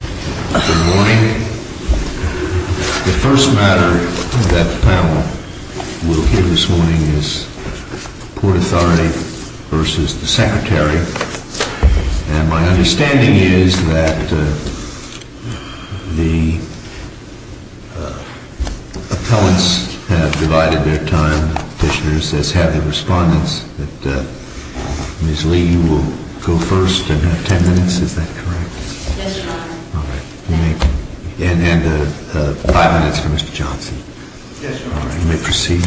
Good morning. The first matter of that panel we'll hear this morning is Port Authority v. the Secretary. And my understanding is that the appellants have divided their time. The petitioner says have their respondents. Ms. Lee, you will go first and have ten minutes. Is that correct? Yes, Your Honor. And five minutes for Mr. Johnson. Yes, Your Honor. You may proceed.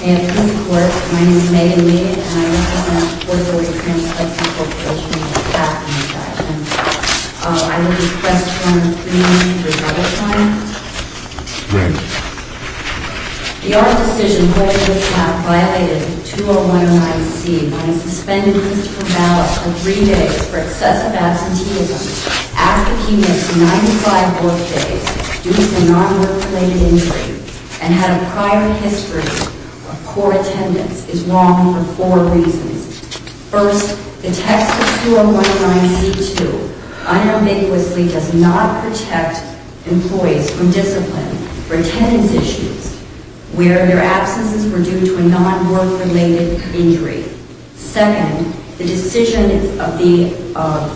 May it please the Court, my name is Megan Lee and I represent Port Authority Trans Hudson v. the Department of Justice. I would request your Honor to bring me your ballot signs. Great. Your Honor, the decision by which this app violated 20109C on a suspended municipal ballot for three days for excessive absenteeism after he missed 95 work days due to a non-work-related injury and had a prior history of poor attendance is wrong for four reasons. First, the text of 20109C-2 unambiguously does not protect employees from discipline for attendance issues where their absences were due to a non-work-related injury. Second, the decision of the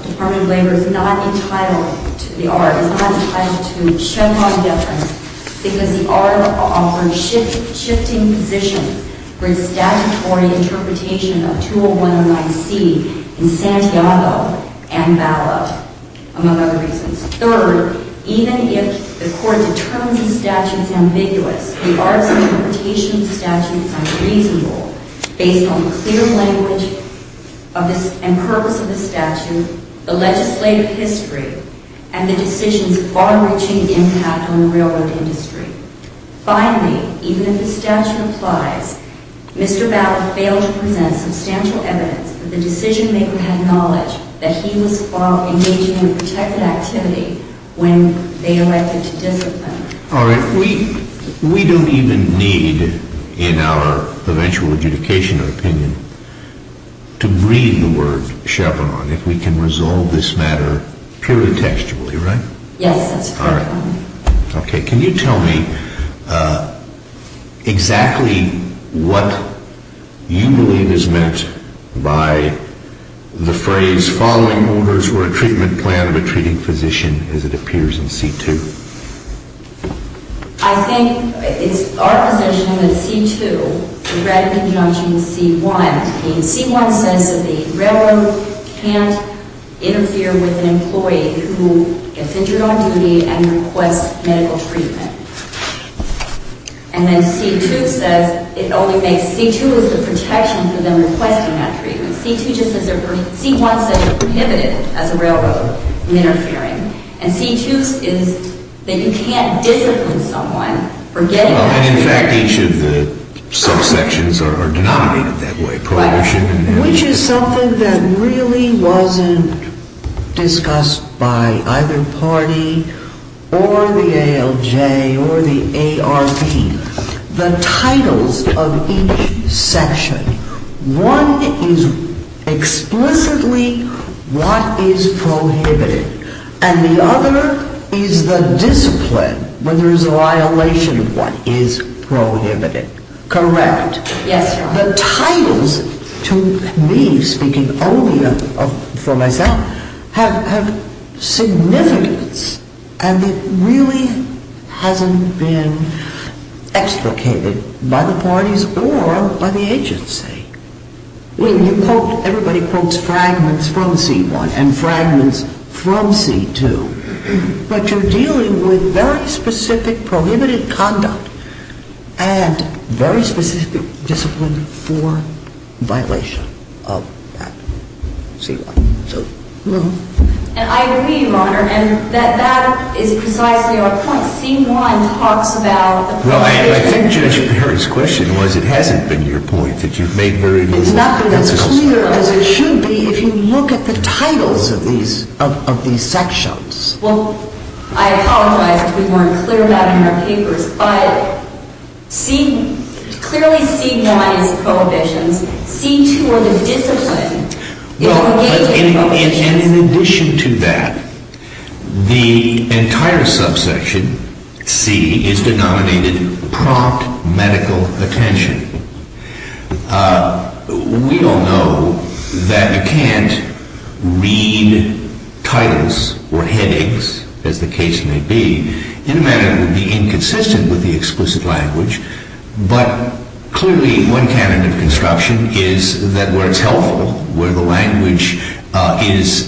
Department of Labor is not entitled to the art, is not entitled to a Chevron deference because the art offers shifting positions for its statutory interpretation of 20109C in Santiago and ballot, among other reasons. Third, even if the Court determines the statute is ambiguous, the art's interpretation of the statute is unreasonable based on the clear language and purpose of the statute, the legislative history, and the decision's far-reaching impact on the railroad industry. Finally, even if the statute applies, Mr. Ballard failed to present substantial evidence that the decision-maker had knowledge that he was engaging in a protected activity when they elected to discipline. All right. We don't even need, in our eventual adjudication or opinion, to read the word Chevron if we can resolve this matter purely textually, right? Yes, that's correct, Your Honor. Okay. Can you tell me exactly what you believe is meant by the phrase, following orders were a treatment plan of a treating physician, as it appears in C-2? I think it's our position that C-2, regretting and judging C-1, means C-1 says that the railroad can't interfere with an employee who gets injured on duty and requests medical treatment. And then C-2 says it only makes C-2 as the protection for them requesting that treatment. C-1 says they're prohibited as a railroad from interfering. And C-2 is that you can't discipline someone for getting injured. And, in fact, each of the subsections are denominated that way. Prohibition and then the other. Which is something that really wasn't discussed by either party or the ALJ or the ARP. The titles of each section, one is explicitly what is prohibited. And the other is the discipline when there is a violation of what is prohibited. Correct? Yes, Your Honor. The titles, to me speaking only for myself, have significance and it really hasn't been extricated by the parties or by the agency. Everybody quotes fragments from C-1 and fragments from C-2. But you're dealing with very specific prohibited conduct and very specific discipline for violation of that C-1. And I agree, Your Honor, and that that is precisely our point. C-1 talks about... Well, I think Judge Perry's question was it hasn't been your point that you've made very... It's not been as clear as it should be if you look at the titles of these sections. Well, I apologize if we weren't clear about it in our papers. But clearly C-1 is prohibitions. C-2 are the discipline. Well, and in addition to that, the entire subsection, C, is denominated prompt medical attention. We all know that you can't read titles or headaches, as the case may be, in a manner that would be inconsistent with the explicit language. But clearly one candidate of construction is that where it's helpful, where the language is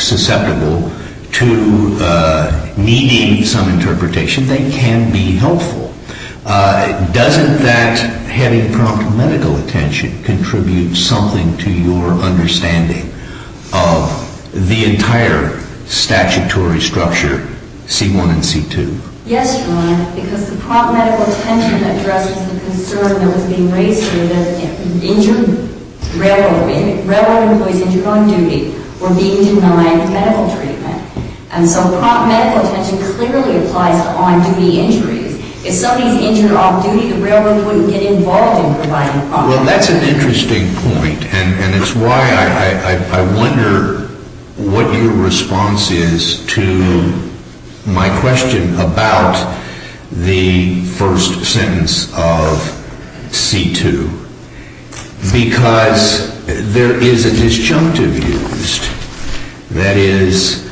susceptible to needing some interpretation, they can be helpful. Doesn't that, having prompt medical attention, contribute something to your understanding of the entire statutory structure, C-1 and C-2? Yes, Your Honor, because the prompt medical attention addresses the concern that was being raised here that injured, railroad employees injured on duty were being denied medical treatment. And so prompt medical attention clearly applies to on-duty injuries. If somebody's injured off-duty, the railroad wouldn't get involved in providing prompt medical attention. I'm not going to make a request about the first sentence of C-2 because there is a disjunctive used. That is,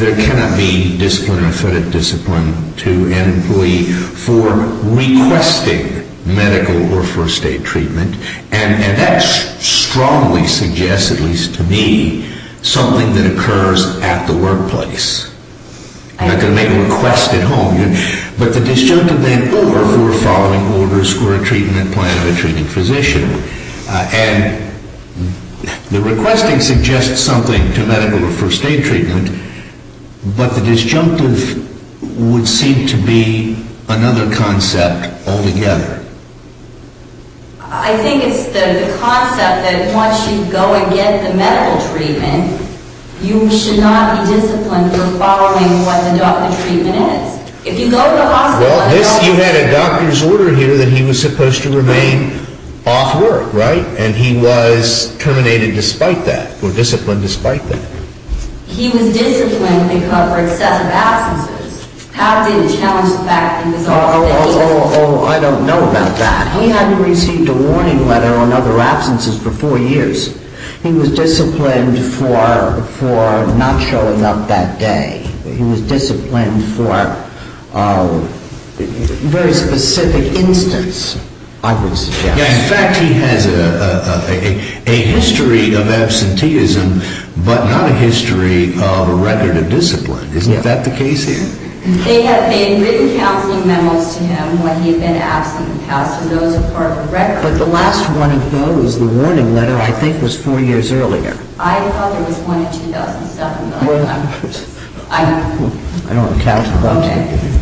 there cannot be disciplinary discipline to an employee for requesting medical or first-aid treatment. And that strongly suggests, at least to me, something that occurs at the workplace. I'm not going to make a request at home. But the disjunctive then or for following orders for a treatment plan of a treating physician. And the requesting suggests something to medical or first-aid treatment, but the disjunctive would seem to be another concept altogether. I think it's the concept that once you go and get the medical treatment, you should not be disciplined for following what the doctor's treatment is. Well, you had a doctor's order here that he was supposed to remain off work, right? And he was terminated despite that, or disciplined despite that. He was disciplined because of excessive absences. How did it challenge the fact that he was off-duty? Oh, I don't know about that. He hadn't received a warning letter on other absences for four years. He was disciplined for not showing up that day. He was disciplined for a very specific instance, I would suggest. In fact, he has a history of absenteeism, but not a history of a record of discipline. Isn't that the case here? They had made written counseling memos to him when he had been absent in the past, and those are part of the record. But the last one of those, the warning letter, I think was four years earlier. I thought there was one in 2007. Well, I don't have a count. Okay.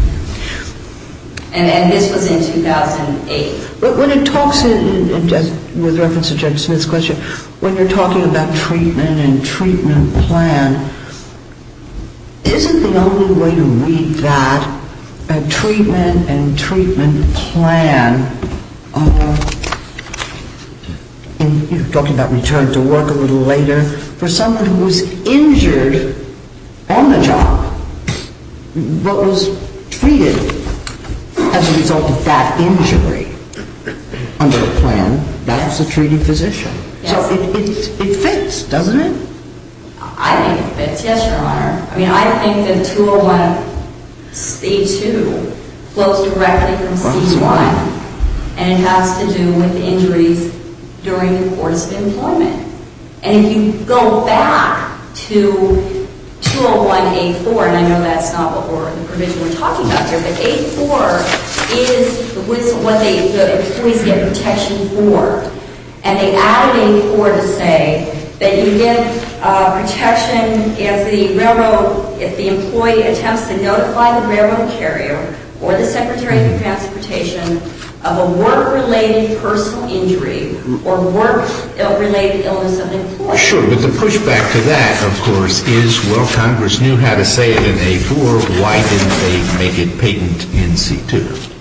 And this was in 2008. But when it talks, with reference to Judge Smith's question, when you're talking about treatment and treatment plan, isn't the only way to read that, a treatment and treatment plan, And you're talking about return to work a little later. For someone who was injured on the job, what was treated as a result of that injury under the plan, that was a treated physician. Yes. So it fits, doesn't it? I think it fits, yes, Your Honor. I mean, I think that 201C2 flows directly from C1, and it has to do with injuries during the course of employment. And if you go back to 201A4, and I know that's not the provision we're talking about here, but A4 is what the employees get protection for. And they added in A4 to say that you get protection if the railroad, if the employee attempts to notify the railroad carrier or the secretary of transportation of a work-related personal injury or work-related illness of an employee. Sure. But the pushback to that, of course, is, well, Congress knew how to say it in A4. Why didn't they make it patent in C2?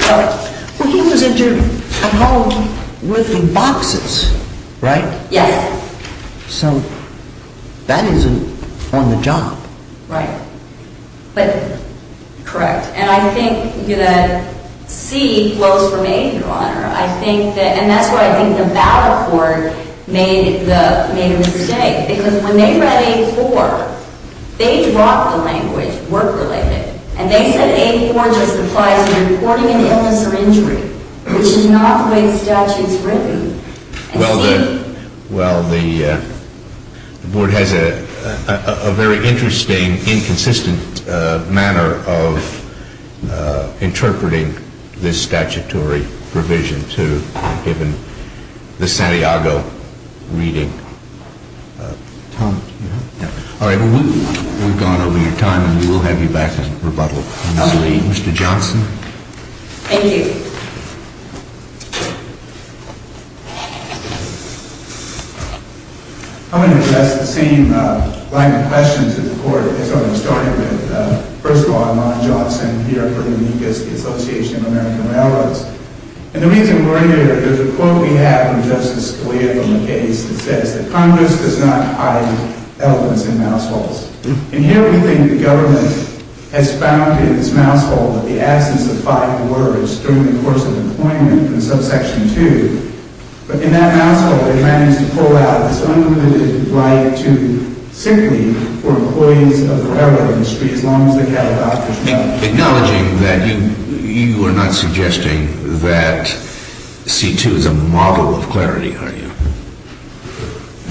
Well, he was injured at home with the boxes, right? Yes. So that isn't on the job. Right. But, correct. And I think that C flows from A, Your Honor. I think that, and that's why I think the ballot board made the, made a mistake. Because when they read A4, they dropped the language, work-related, and they said A4 just applies to reporting an illness or injury, which is not the way the statute's written. Well, the, well, the board has a very interesting, inconsistent manner of interpreting this statutory provision to, given the Santiago reading. Tom, do you have? No. All right. Well, we've gone over your time, and we will have you back in rebuttal. Mr. Johnson. Thank you. I'm going to address the same line of questions that the Court has already started with. First of all, I'm Ron Johnson, here from the U.S. Association of American Railroads. And the reason we're here, there's a quote we have from Justice Scalia from the case that says that Congress does not hide elements in mouse holes. But in that mouse hole, they manage to pull out this unlimited right to, simply, for employees of the railroad industry, as long as they have a doctor's note. Acknowledging that you, you are not suggesting that C2 is a model of clarity, are you?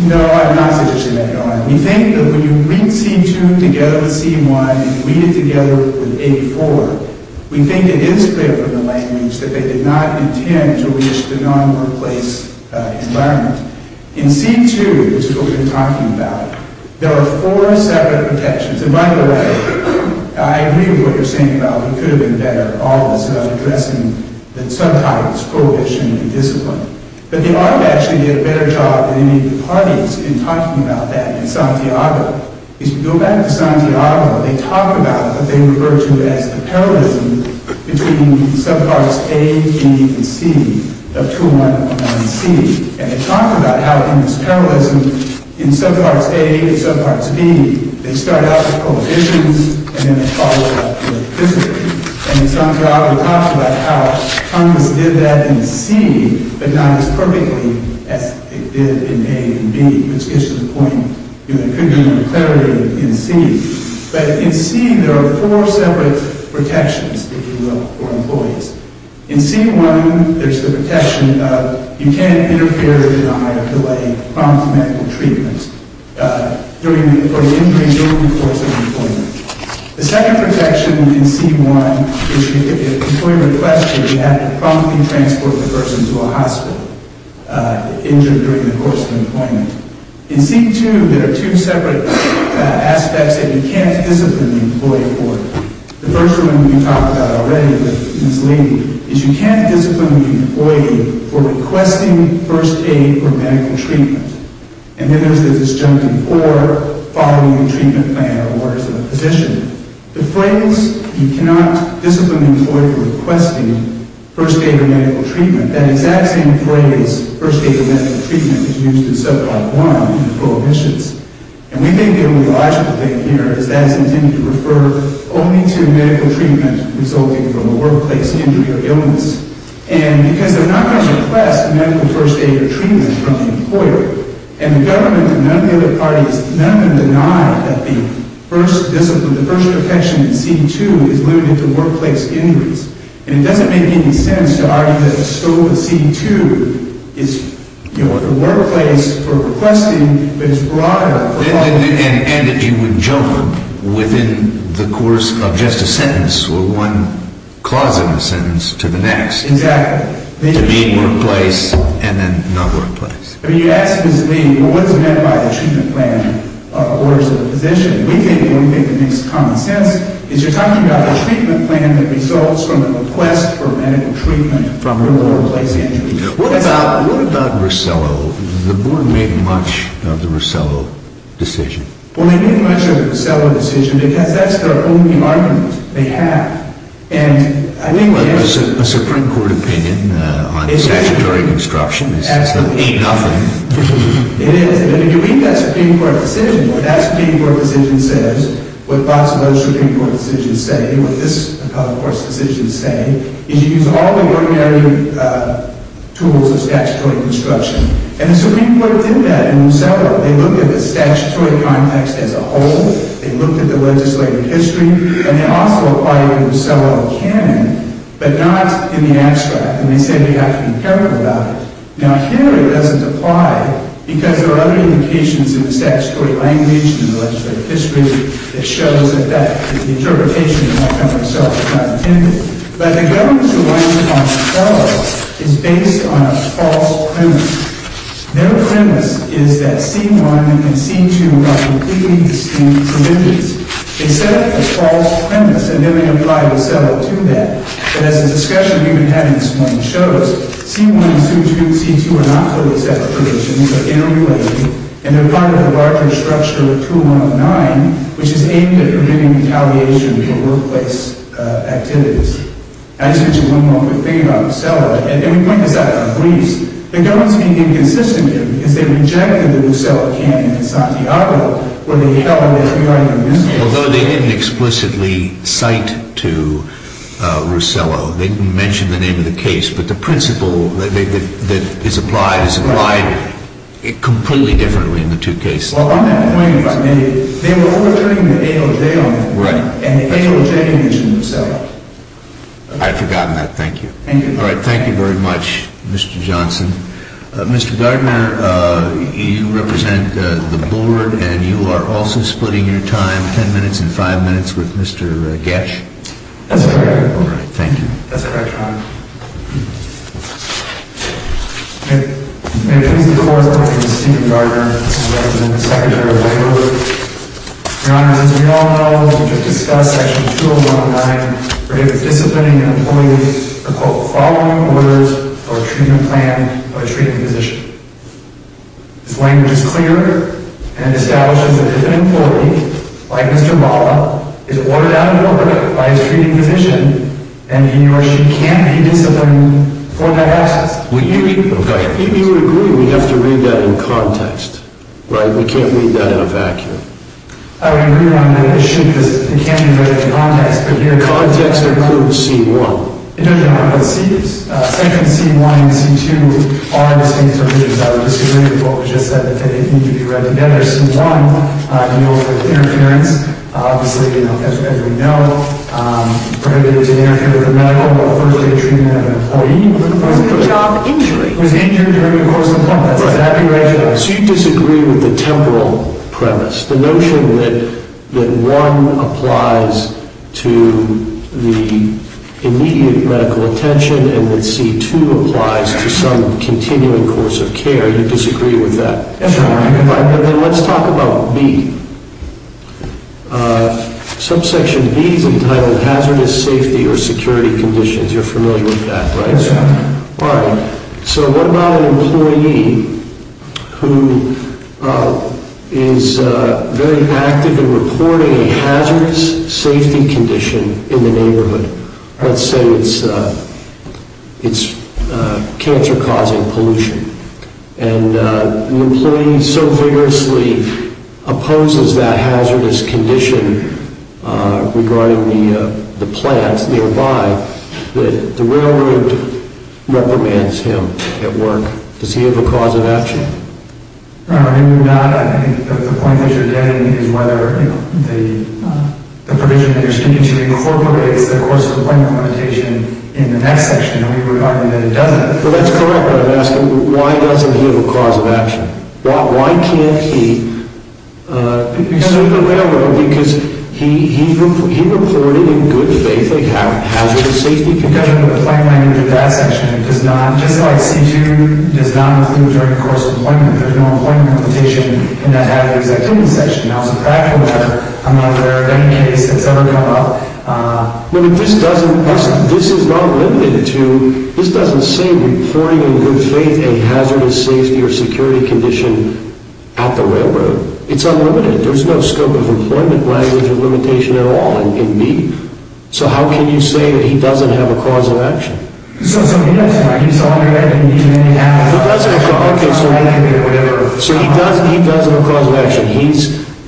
No, I'm not suggesting that, Your Honor. We think that when you read C2 together with C1, and you read it together with A4, we think it is clear from the language that they did not intend to reach the non-workplace environment. In C2, which is what we've been talking about, there are four separate protections. And by the way, I agree with what you're saying about it could have been better, all this addressing the sometimes prohibition and discipline. But they ought to actually get a better job than any of the parties in talking about that in Santiago. If you go back to Santiago, they talk about what they refer to as the parallelism between subparts A, B, and C of 219C. And they talk about how in this parallelism, in subparts A and subparts B, they start out with prohibitions and then they follow up with discipline. And Santiago talks about how Congress did that in C, but not as perfectly as it did in A and B. Which gets to the point, you know, there could be more clarity in C. But in C, there are four separate protections, if you will, for employees. In C1, there's the protection of you can't interfere, deny, or delay prompt medical treatment during the course of employment. The second protection in C1 is if an employee requests you, you have to promptly transport the person to a hospital injured during the course of employment. In C2, there are two separate aspects that you can't discipline the employee for. The first one, we talked about already with Ms. Levy, is you can't discipline the employee for requesting first aid or medical treatment. And then there's the disjunctive, or following the treatment plan or orders of the physician. The phrase, you cannot discipline the employee for requesting first aid or medical treatment, that exact same phrase, first aid or medical treatment, is used in subpart 1 in prohibitions. And we think the only logical thing here is that it's intended to refer only to medical treatment resulting from a workplace injury or illness. And because they're not going to request medical first aid or treatment from the employer, and the government and none of the other parties, none of them deny that the first discipline, the first protection in C2 is limited to workplace injuries. And it doesn't make any sense to argue that a scope of C2 is, you know, a workplace for requesting, but it's broader. And that you would jump within the course of just a sentence or one clause in a sentence to the next. Exactly. To be workplace and then not workplace. I mean, you ask Ms. Levy, well, what's meant by the treatment plan or orders of the physician? We think, and we think it makes common sense, is you're talking about the treatment plan that results from a request for medical treatment from a workplace injury. What about Rosello? The board made much of the Rosello decision. Well, they made much of the Rosello decision because that's their only argument. They have. A Supreme Court opinion on statutory obstruction is nothing. It is. And if you read that Supreme Court decision, what that Supreme Court decision says, what lots of those Supreme Court decisions say, what this Court's decisions say, is you use all the ordinary tools of statutory obstruction. And the Supreme Court did that in Rosello. They looked at the statutory context as a whole. They looked at the legislative history, and they also applied it in Rosello canon, but not in the abstract. And they said we have to be careful about it. Now, here it doesn't apply because there are other indications in the statutory language, in the legislative history, that shows that the interpretation in that kind of a cell is not intended. But the government's alignment on Rosello is based on a false premise. Their premise is that C1 and C2 are completely distinct subjects. They set up a false premise, and then they applied Rosello to that. But as the discussion we've been having this morning shows, C1 and C2 are not totally separate. They're interrelated, and they're part of the larger structure of 2109, which is aimed at preventing retaliation for workplace activities. I just want to mention one more quick thing about Rosello, and we point this out in our briefs. The government's being inconsistent here because they rejected the Rosello canon in Santiago, where they held that the argument was false. Although they didn't explicitly cite to Rosello. They didn't mention the name of the case. But the principle that is applied is applied completely differently in the two cases. Well, on that point, if I may, they were ordering the AOJ on it. Right. And the AOJ mentioned Rosello. I'd forgotten that. Thank you. All right. Thank you very much, Mr. Johnson. Mr. Gardner, you represent the board, and you are also splitting your time, 10 minutes and 5 minutes, with Mr. Gatch. That's correct. All right. Thank you. That's correct, Your Honor. May it please the Court, I'm going to speak to Gardner. I represent the Secretary of Labor. Your Honor, as we all know, we just discussed Section 201.9, where he was disciplining an employee to, quote, follow orders or treatment plan of a treating physician. His language is clear, and it establishes that if an employee, like Mr. Mala, is ordered out of an order by his treating physician, then he or she can't be disciplined for that absence. Well, you agree we have to read that in context. Right? I can't read that in a vacuum. I would agree on that issue because it can't be read in context. Context includes C-1. It does not. But Section C-1 and C-2 are the same provisions. I would disagree with what was just said. They need to be read together. C-1 deals with interference. Obviously, as we know, prohibited to interfere with a medical or first-day treatment of an employee. It was a job injury. It was an injury during the course of employment. That's exactly right, Your Honor. All right. So you disagree with the temporal premise, the notion that 1 applies to the immediate medical attention and that C-2 applies to some continuing course of care. You disagree with that. Yes, Your Honor. All right. Then let's talk about B. Subsection B is entitled Hazardous Safety or Security Conditions. You're familiar with that, right? Yes, Your Honor. All right. So what about an employee who is very active in reporting a hazardous safety condition in the neighborhood? Let's say it's cancer-causing pollution. And the employee so vigorously opposes that hazardous condition regarding the plants nearby that the railroad reprimands him at work. Does he have a cause of action? Your Honor, maybe not. I think the point that you're getting is whether the provision that you're speaking to incorporates the course of employment limitation in the next section. And we would argue that it doesn't. Well, that's correct. But I'm asking, why doesn't he have a cause of action? Why can't he sue the railroad because he reported in good faith a hazardous safety condition? Because the plan language of that section does not, just like C-2, does not include the course of employment. There's no employment limitation in that hazardous activity section. Now, as a practical matter, I'm not aware of any case that's ever come up. But this doesn't, this is not limited to, this doesn't say reporting in good faith a hazardous safety or security condition at the railroad. It's unlimited. There's no scope of employment language of limitation at all in me. So how can you say that he doesn't have a cause of action?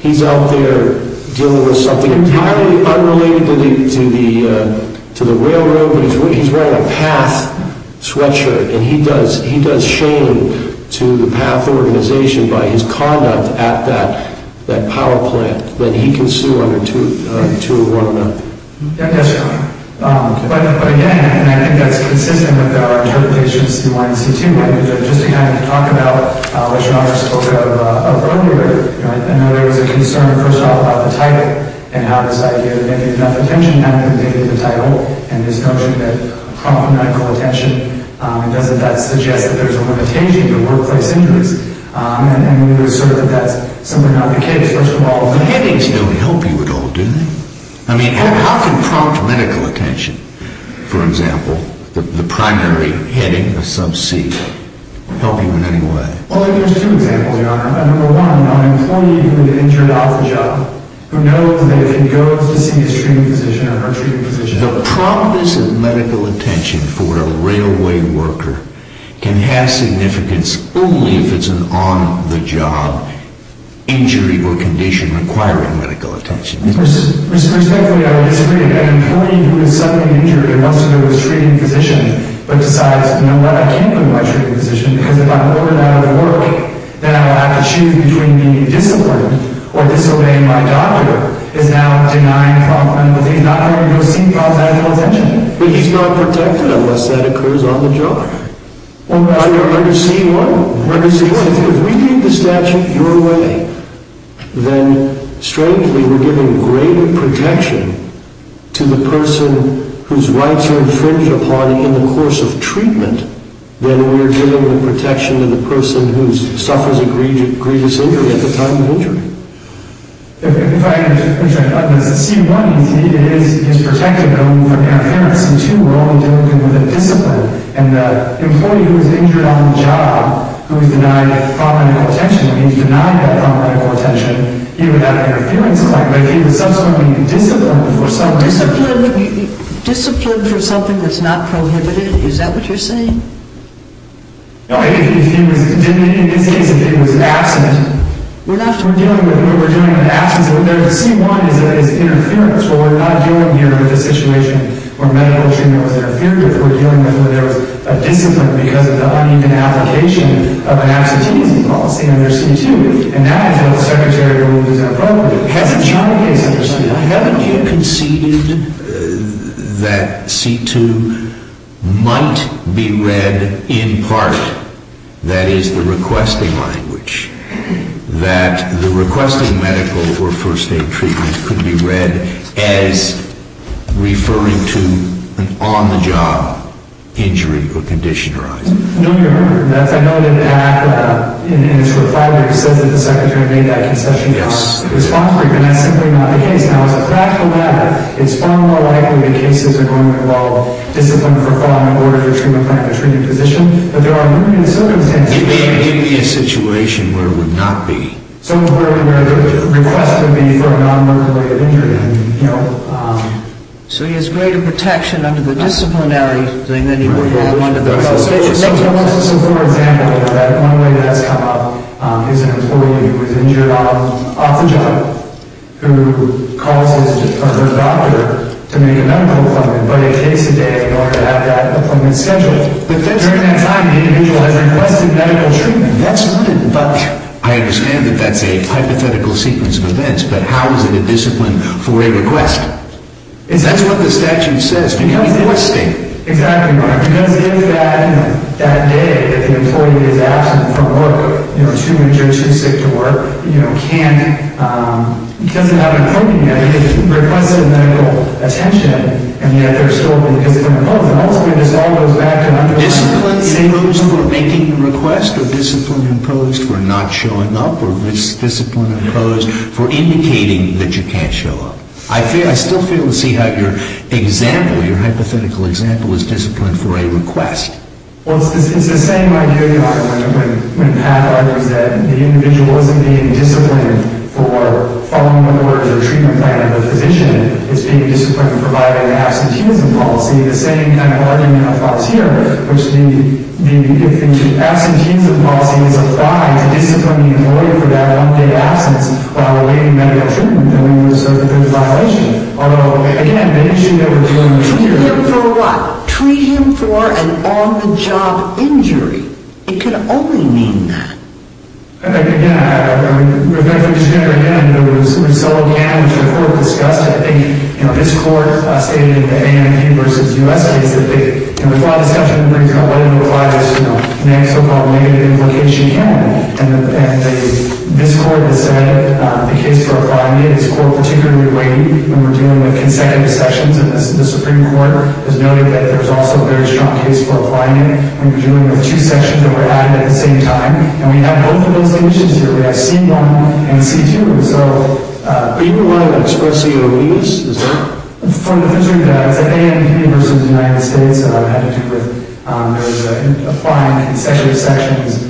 He's out there dealing with something entirely unrelated to the railroad, but he's wearing a PATH sweatshirt. And he does shame to the PATH organization by his conduct at that power plant that he can sue under 2-1-1. Yes, Your Honor. But again, and I think that's consistent with our interpretations of C-1 and C-2. Just to kind of talk about what Your Honor spoke of earlier, I know there was a concern, first of all, about the title, and how this idea of making enough attention, having to make it a title, and this notion that prompt medical attention, doesn't that suggest that there's a limitation to workplace injuries? And we would assert that that's somewhat not the case. First of all, the headings don't help you at all, do they? I mean, how can prompt medical attention, for example, the primary heading of sub-C, help you in any way? Well, there's two examples, Your Honor. Number one, an employee who has been injured off the job, who knows that if he goes to see his treatment physician or her treatment physician... The promptness of medical attention for a railway worker can have significance only if it's an on-the-job injury or condition requiring medical attention. Respectfully, I would disagree. An employee who has suffered an injury and wants to go to his treatment physician, but decides, you know what, I can't go to my treatment physician, because if I'm over and out of work, then I will have to choose between being disappointed or disobeying my doctor, is now denying prompt medical attention. He's not going to go see prompt medical attention. But he's not protected unless that occurs on the job. Are you seeing what I'm seeing? Are you seeing what I'm seeing? If we give the statute your way, then, strengthly, we're giving greater protection to the person whose rights are infringed upon in the course of treatment than we're giving protection to the person who suffers a grievous injury at the time of injury. If I can interject, it's C1. It is protected from interference. And two, we're only dealing with a discipline. And the employee who was injured on the job, who was denied prompt medical attention, if he's denied that prompt medical attention, he would have interference. But if he was subsequently disciplined for something... Disciplined for something that's not prohibited, is that what you're saying? No, if he was, in this case, if he was absent, we're dealing with, we're dealing with absence. So, C1 is interference. Well, we're not dealing here with a situation where medical treatment was interfered with. We're dealing with where there was a discipline because of the uneven application of an absenteeism policy under C2. And that is what the Secretary, who is in a program, hasn't tried to get us to understand. Now, haven't you conceded that C2 might be read in part, that is, the requesting language, that the requesting medical or first aid treatment could be read as referring to an on-the-job injury or condition arising? No, Your Honor. I know that the act, in its reply, says that the Secretary made that concession. Yes. And that's simply not the case. Now, as a practical matter, it's far more likely the cases are going to involve discipline for fraud in order for treatment to make a treated position. But there are numerous circumstances... It may be a situation where it would not be. So, where the request would be for a non-murder rate of injury. So, he has greater protection under the disciplinary thing than he would have under the... So, for example, one way that has come up is an employee who is injured off the job, who calls his or her doctor to make a medical appointment, but it takes a day in order to have that appointment scheduled. But during that time, the individual has requested medical treatment. That's not a bunch. I understand that that's a hypothetical sequence of events, but how is it a discipline for a request? That's what the statute says, becoming requesting. Exactly, Your Honor. Because if that day that the employee is absent from work, you know, too injured, too sick to work, you know, can't... He doesn't have an appointment. He has requested medical attention, and yet there's still a discipline imposed. And ultimately, this all goes back to... Discipline imposed for making the request, or discipline imposed for not showing up, or discipline imposed for indicating that you can't show up. I still fail to see how your example, your hypothetical example, is discipline for a request. Well, it's the same idea, Your Honor, when Pat argues that the individual isn't being disciplined for following the orders or treatment plan of the physician. It's being disciplined for providing an absenteeism policy. The same kind of argument applies here, which the... If the absenteeism policy is applied to discipline the employee for that one-day absence while awaiting medical treatment, then we would assert that there's a violation. Although, again, the issue that we're dealing with here... Treat him for what? Treat him for an on-the-job injury. It could only mean that. Again, I mean, we're going to finish here again. You know, we've... We've sort of... We've sort of discussed. I think, you know, this Court stated in the A&E v. U.S. case that they... And the flawed discussion brings up what implies, you know, the next so-called negative implication can be. And this Court has said the case for applying it is court-particularly weighty when we're dealing with consecutive sections. And the Supreme Court has noted that there's also a very strong case for applying it when you're dealing with two sections that were added at the same time. And we have both of those conditions here. We have C-1 and C-2. So... But you don't want to express COEs? Is that... From the... From the A&E v. U.S. had to do with applying consecutive sections.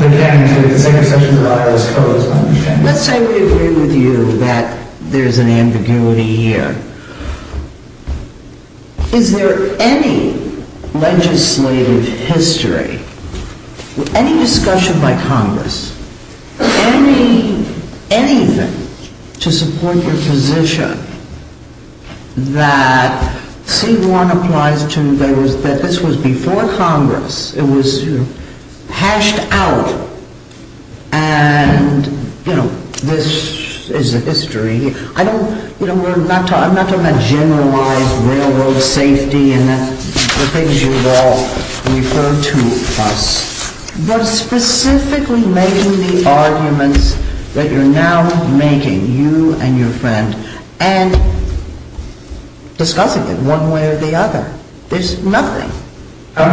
They're getting to the consecutive sections of IRS COEs. Let's say we agree with you that there's an ambiguity here. Is there any legislative history, any discussion by Congress, any... Anything to support your position that C-1 applies to... That this was before Congress. It was hashed out. And, you know, this is a history. I don't... You know, I'm not talking about generalized railroad safety and the things you've all referred to us. But specifically making the arguments that you're now making, you and your friend, and discussing it one way or the other. There's nothing. Isn't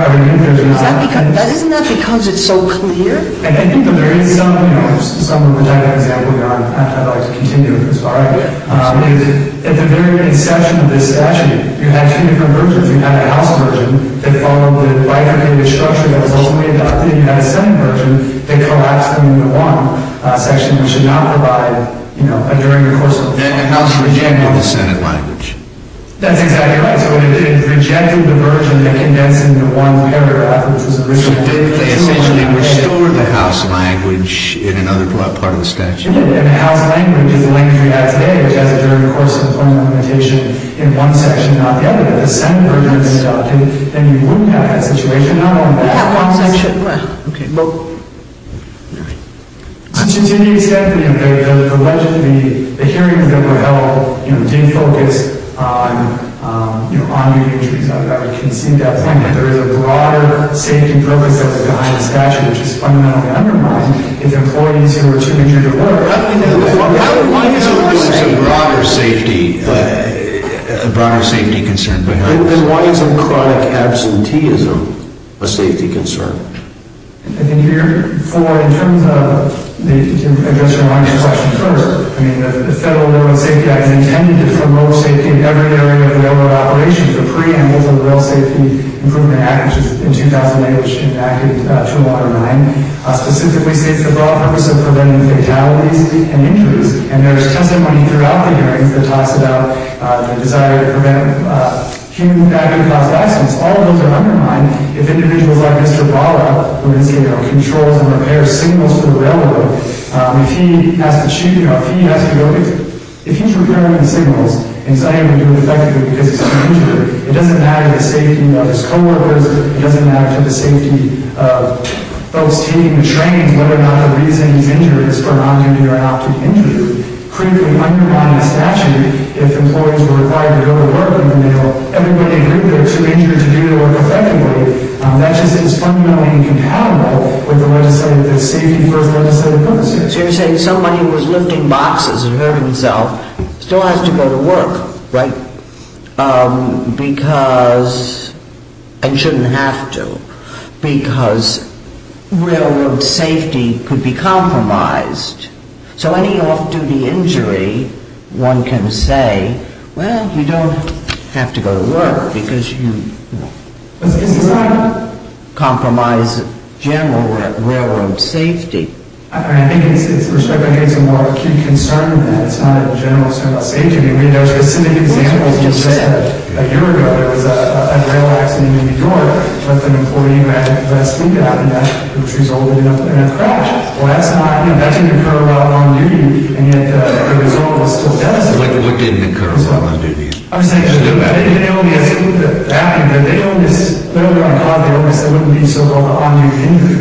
that because it's so clear? I think that there is some, you know, some of which I have examples on. I'd like to continue with this. All right. At the very inception of this statute, you had two different versions. You had a House version that followed the right-of-way structure that was ultimately adopted. You had a Senate version that collapsed in the one section which did not provide, you know, during the course of... Then the House rejected the Senate language. That's exactly right. It rejected the version that condensed into one paragraph. So they essentially restored the House language in another part of the statute. The House language is the language we have today which has a very coarse implementation in one section, not the other. If the Senate version was adopted, then you wouldn't have that situation. Not only that, but... We have one section. Well, okay. To the extent that the alleged... the hearings that were held, you know, I would concede that point, that there is a broader safety purpose that was behind the statute which is fundamentally undermined if employees who are too injured or whatever... Why is there a broader safety... a broader safety concern behind this? Then why isn't chronic absenteeism a safety concern? I think here, for... in terms of... to address your minor question further, I mean, the Federal Bureau of Safety has intended to promote safety in every area of the railroad operations. The preamble to the Rail Safety Improvement Act which was in 2008, which enacted to undermine, specifically states the broad purpose of preventing fatalities and injuries. And there is testimony throughout the hearings that talks about the desire to prevent human damage and cost of accidents. All of those are undermined if individuals like Mr. Bala, who is, you know, controls and repairs signals for the railroad, if he has to... you know, if he has to go... if he's repairing the signals and he's not even doing it effectively because he's injured. It doesn't matter to the safety of his co-workers. It doesn't matter to the safety of folks taking the train, whether or not the reason he's injured is for an on-duty or an off-duty injury. Critically undermining the statute if employees were required to go to work in the middle of... everybody knew they were too injured to do their work effectively. That just is fundamentally incompatible with the legislative... the safety first legislative purpose here. So you're saying somebody who was lifting boxes and hurt himself still has to go to work, right? Because... and shouldn't have to because railroad safety could be compromised. So any off-duty injury, one can say, well, you don't have to go to work because you... it's not a compromise of general railroad safety. I think it's a more acute concern that it's not a general issue about safety. I mean, there are specific examples. Just a year ago, there was a rail accident in New York with an employee who had a flat sleeper and that... which resulted in a crash. Well, that's not... that didn't occur while on-duty, and yet the result was still devastating. What didn't occur while on-duty? I'm just saying, they only... it's a little bit bad, but they only... on God, they only said it wouldn't be so-called an on-duty injury.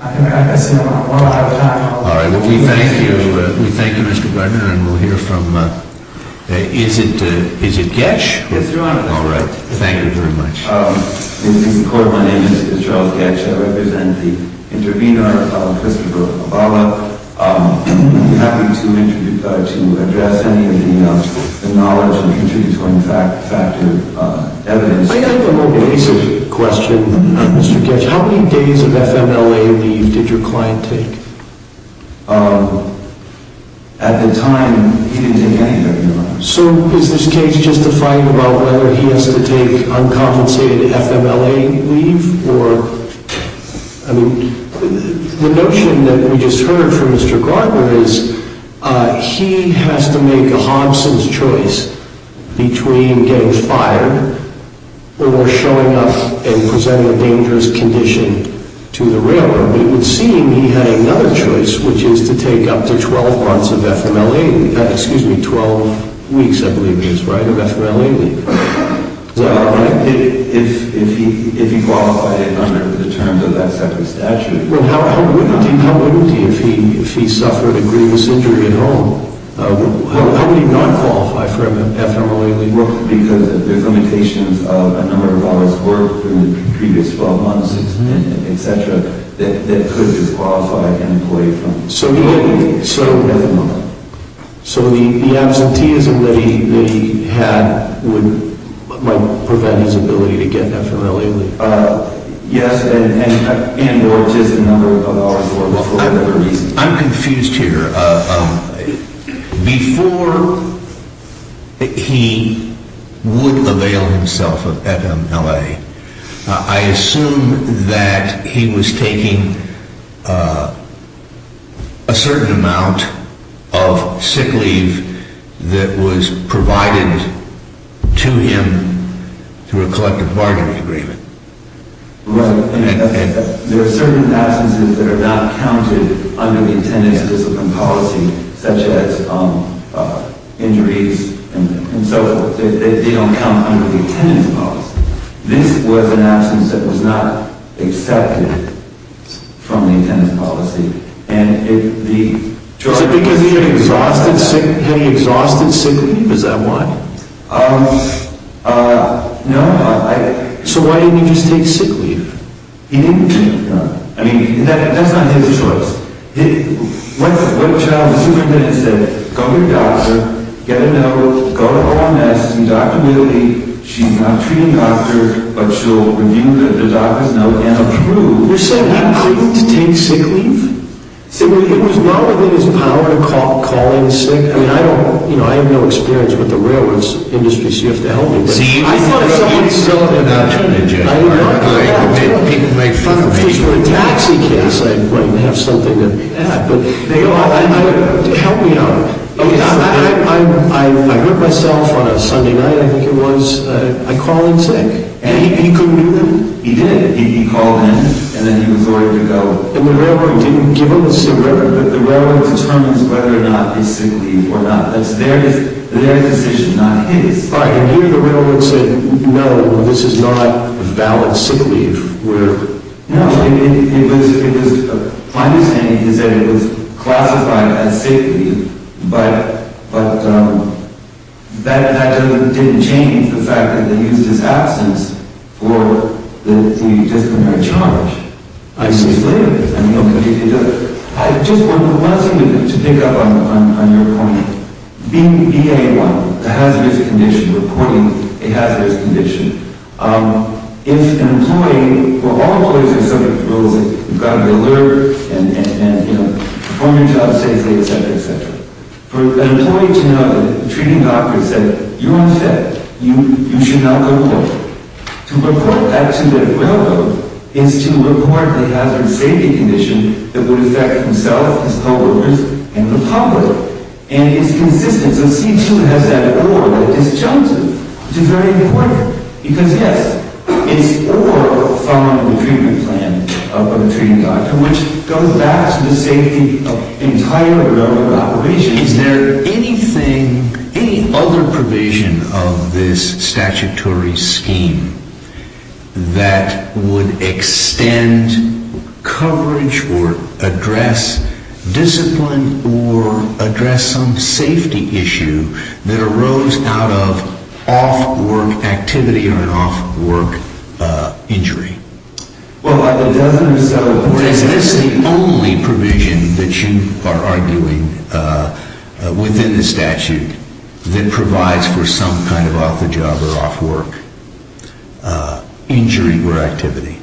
I guess we don't have a lot of time. All right. We thank you. We thank you, Mr. Gardner, and we'll hear from... is it... is it Goetsch? Yes, Your Honor. All right. Thank you very much. In the Supreme Court, my name is Charles Goetsch. I represent the intervener, Christopher Mabala. I'm happy to introduce... to address any of the knowledge and contribute to any fact... fact of evidence. I have a more basic question, Mr. Goetsch. How many days of FMLA leave did your client take? At the time, he didn't take any, Your Honor. So, is this case justifying about whether he has to take uncompensated FMLA leave, or... I mean, the notion that we just heard from Mr. Gardner is, he has to make a Hobson's choice between getting fired or showing up and presenting a dangerous condition to the Railroad. It would seem he had another choice, which is to take up to 12 months of FMLA leave. Excuse me, 12 weeks, I believe it is, right? Of FMLA leave. Is that right? If... if he... if he qualified under the terms of that separate statute... Well, how would he? How would he if he... if he suffered a grievous injury at home? How would he not qualify for FMLA leave? Well, because there's limitations of a number of hours worked in the previous 12 months, etc., that could disqualify an employee from... So he had... So... So the absenteeism that he... that he had would... might prevent his ability to get FMLA leave? Yes, and... and or just a number of hours for whatever reason. I'm confused here. Before... he... qualified himself of FMLA, I assume that he was taking a... a certain amount of sick leave that was provided to him through a collective bargaining agreement. Right. There are certain absences that are not counted under the intended discipline policy, such as injuries and so forth. They don't count under the intended policy. This was an absence that was not accepted from the intended policy. And if the... Is it because he had exhausted sick... had he exhausted sick leave? Is that why? No, I... So why didn't he just take sick leave? He didn't take... I mean, that's not his choice. What child superintendent said, go to your doctor, get a note, go to OMS, see Dr. Milley, she's not a treating doctor, but she'll review the doctor's note and approve... You said not to take sick leave? See, it was not within his power to call in sick. I mean, I don't... I have no experience with the railroads industry, so you have to help me. See, I thought... People make fun of me. If these were a taxi case, I'd have something to add. Help me out. I hurt myself on a Sunday night, I think it was. I call in sick. And he couldn't do that? He did. He called in, and then he was ordered to go. And the railroad didn't give him a sick leave? The railroad determines whether or not it's sick leave or not. That's their decision, not his. And here the railroad said, no, this is not a valid sick leave. No, it was... My understanding is that it was classified as sick leave, but... that didn't change the fact that they used his absence for the disciplinary charge. I'm so slippery. I mean, okay, I just want one thing to pick up on your point. Being BA1, a hazardous condition, reporting a hazardous condition, if an employee, well, all employees are subject to rules that you've got to be alert and perform your job safely, etc., etc. For an employee to know that the treating doctor said, you're unfit, you should not go to work. To report that to the railroad is to report the hazardous safety condition that would affect himself, his co-workers, and the public. And it's consistent. So C2 has that or, that disjunctive, which is very important. Because, yes, it's or from the treatment plan of the treating doctor, which goes back to the safety of the entire railroad operation. Is there anything, any other provision of this statutory scheme that would extend coverage or address discipline or address some safety issue that arose out of off-work activity or an off-work injury? Is this the only provision that you are arguing within the statute that provides for some kind of off-the-job or off-work injury or activity?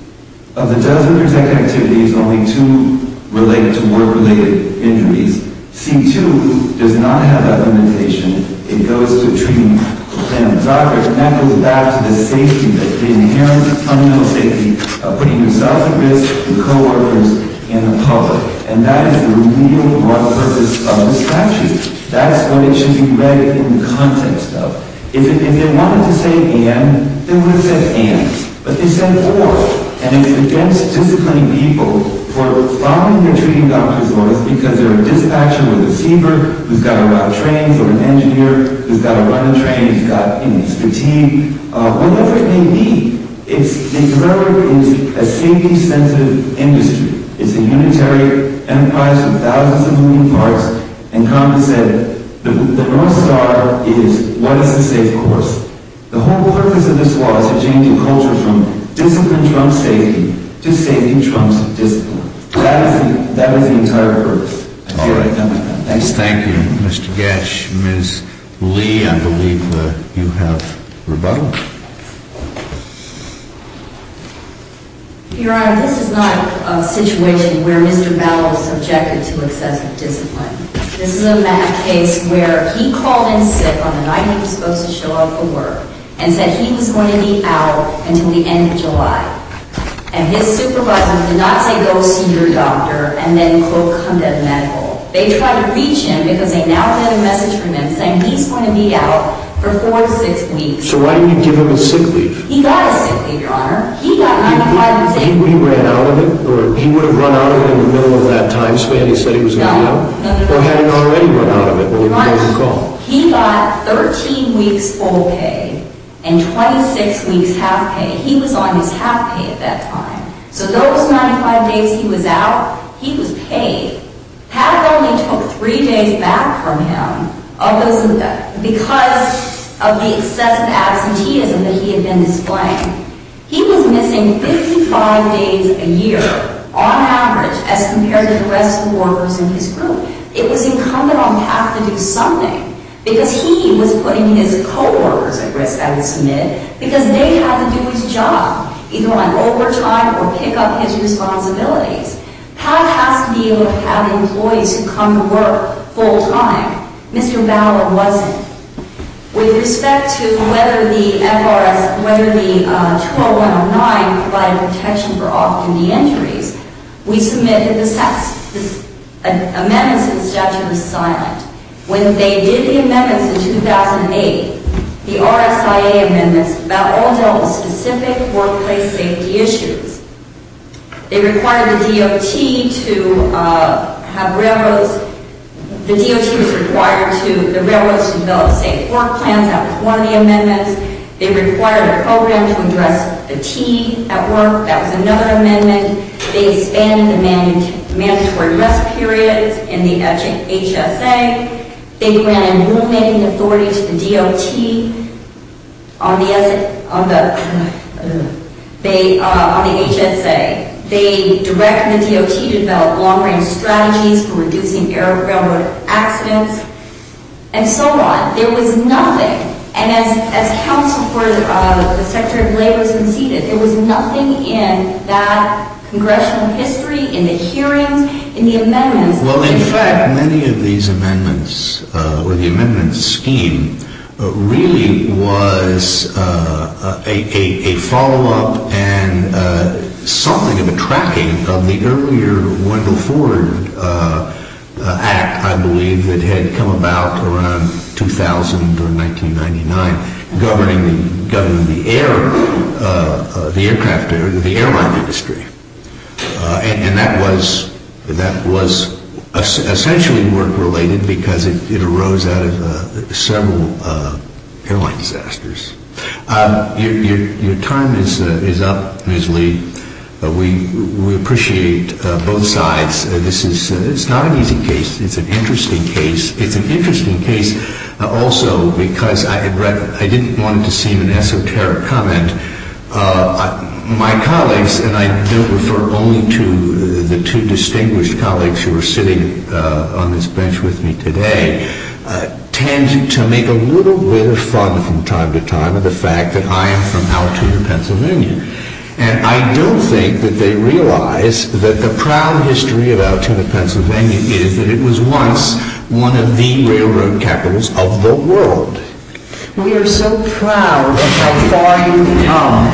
Of the dozen or so activities, only two relate to work-related injuries. C2 does not have that limitation. It goes to the treating plan of the doctor. And that goes back to the safety, the inherent fundamental safety of putting yourself at risk, your co-workers, and the public. And that is the real raw purpose of the statute. That's what it should be read in the context of. If they wanted to say and, they would have said ands. But they said or. And it's against disciplining people for following their treating doctor's orders because they're a dispatcher or a receiver who's got to ride trains or an engineer who's got to run the train who's got, you know, he's fatigued. Whatever it may be, it's a safety-sensitive industry. It's a unitary enterprise with thousands of moving parts. And Congress said the North Star is what is the safe course. The whole purpose of this law is to change the culture from discipline trumps safety to safety trumps discipline. That is the entire purpose. Thank you, Mr. Getsch. Ms. Lee, I believe you have rebuttal. Your Honor, this is not a situation where Mr. Bellows objected to excessive discipline. This is a case where he called in SIP on the night he was supposed to show up for work and said he was going to be out until the end of July. And his supervisor did not say go see your doctor and then quote come to the medical. They tried to reach him because they now had a message from him saying he's going to be out for four to six weeks. So why didn't you give him a sick leave? He got a sick leave, Your Honor. He got 95%. He ran out of it? Or he would have run out of it in the middle of that time span he said he was going to be out? No. Or had he already run out of it over the phone call? He got 13 weeks full pay and 26 weeks half pay. He was on his half pay at that time. So those 95 days he was out, he was paid. PAC only took three days back from him because of the excessive absenteeism that he had been displaying. He was missing 55 days a year on average as compared to the rest of the workers in his group. It was incumbent on PAC to do something because he was putting his co-workers at risk I would submit because they had to do his job either on overtime or pick up his responsibilities. PAC has to be able to have employees who come to work full time. Mr. Bauer wasn't. With respect to whether the FRS, whether the 20109 provided protection for off-duty entries, we submitted this amendment and the statute was silent. When they did the amendments in 2008, the RSIA amendments all dealt with specific workplace safety issues. They required the DOT to have railroads, the DOT was required to, the railroads to develop safe work plans, that was one of the amendments. They required a program to address fatigue at work, that was another amendment. They expanded the mandatory rest periods in the HSA. They granted rule-making authority to the DOT on the HSA. They directed the DOT to develop long-range strategies for reducing railroad accidents and so on. There was nothing, and as Council for the Secretary of Labor conceded, there was nothing in that congressional history, in the hearings, in the amendments. Well, in fact, many of these amendments, or the amendments scheme, really was a follow-up and something of a tracking of the earlier Wendell Ford Act, I believe, that had come about around 2000 or 1999, governing the air, the aircraft, the airline industry. And that was essentially work-related because it arose out of several airline disasters. Your time is up, Ms. Lee. We appreciate both sides. This is not an easy case. It's an interesting case. It's an interesting case also because I didn't want it to seem an esoteric comment. My colleagues, and I don't refer only to the two distinguished colleagues who are sitting on this bench with me today, tend to make a little bit of fun from time to time of the fact that I am from Altoona, Pennsylvania. And I don't think that they realize that the proud history of Altoona, Pennsylvania is that it was once one of the railroad capitals of the world. We are so proud of how far you've come.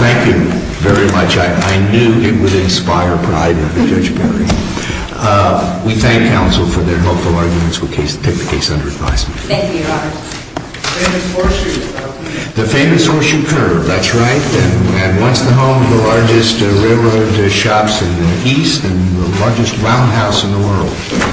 Thank you very much. I knew it would inspire pride of Judge Perry. We thank counsel for their helpful arguments. We'll take the case under advisement. The famous horseshoe curve. That's right. And once the home of the largest railroad shops in the East and the largest roundhouse in the world.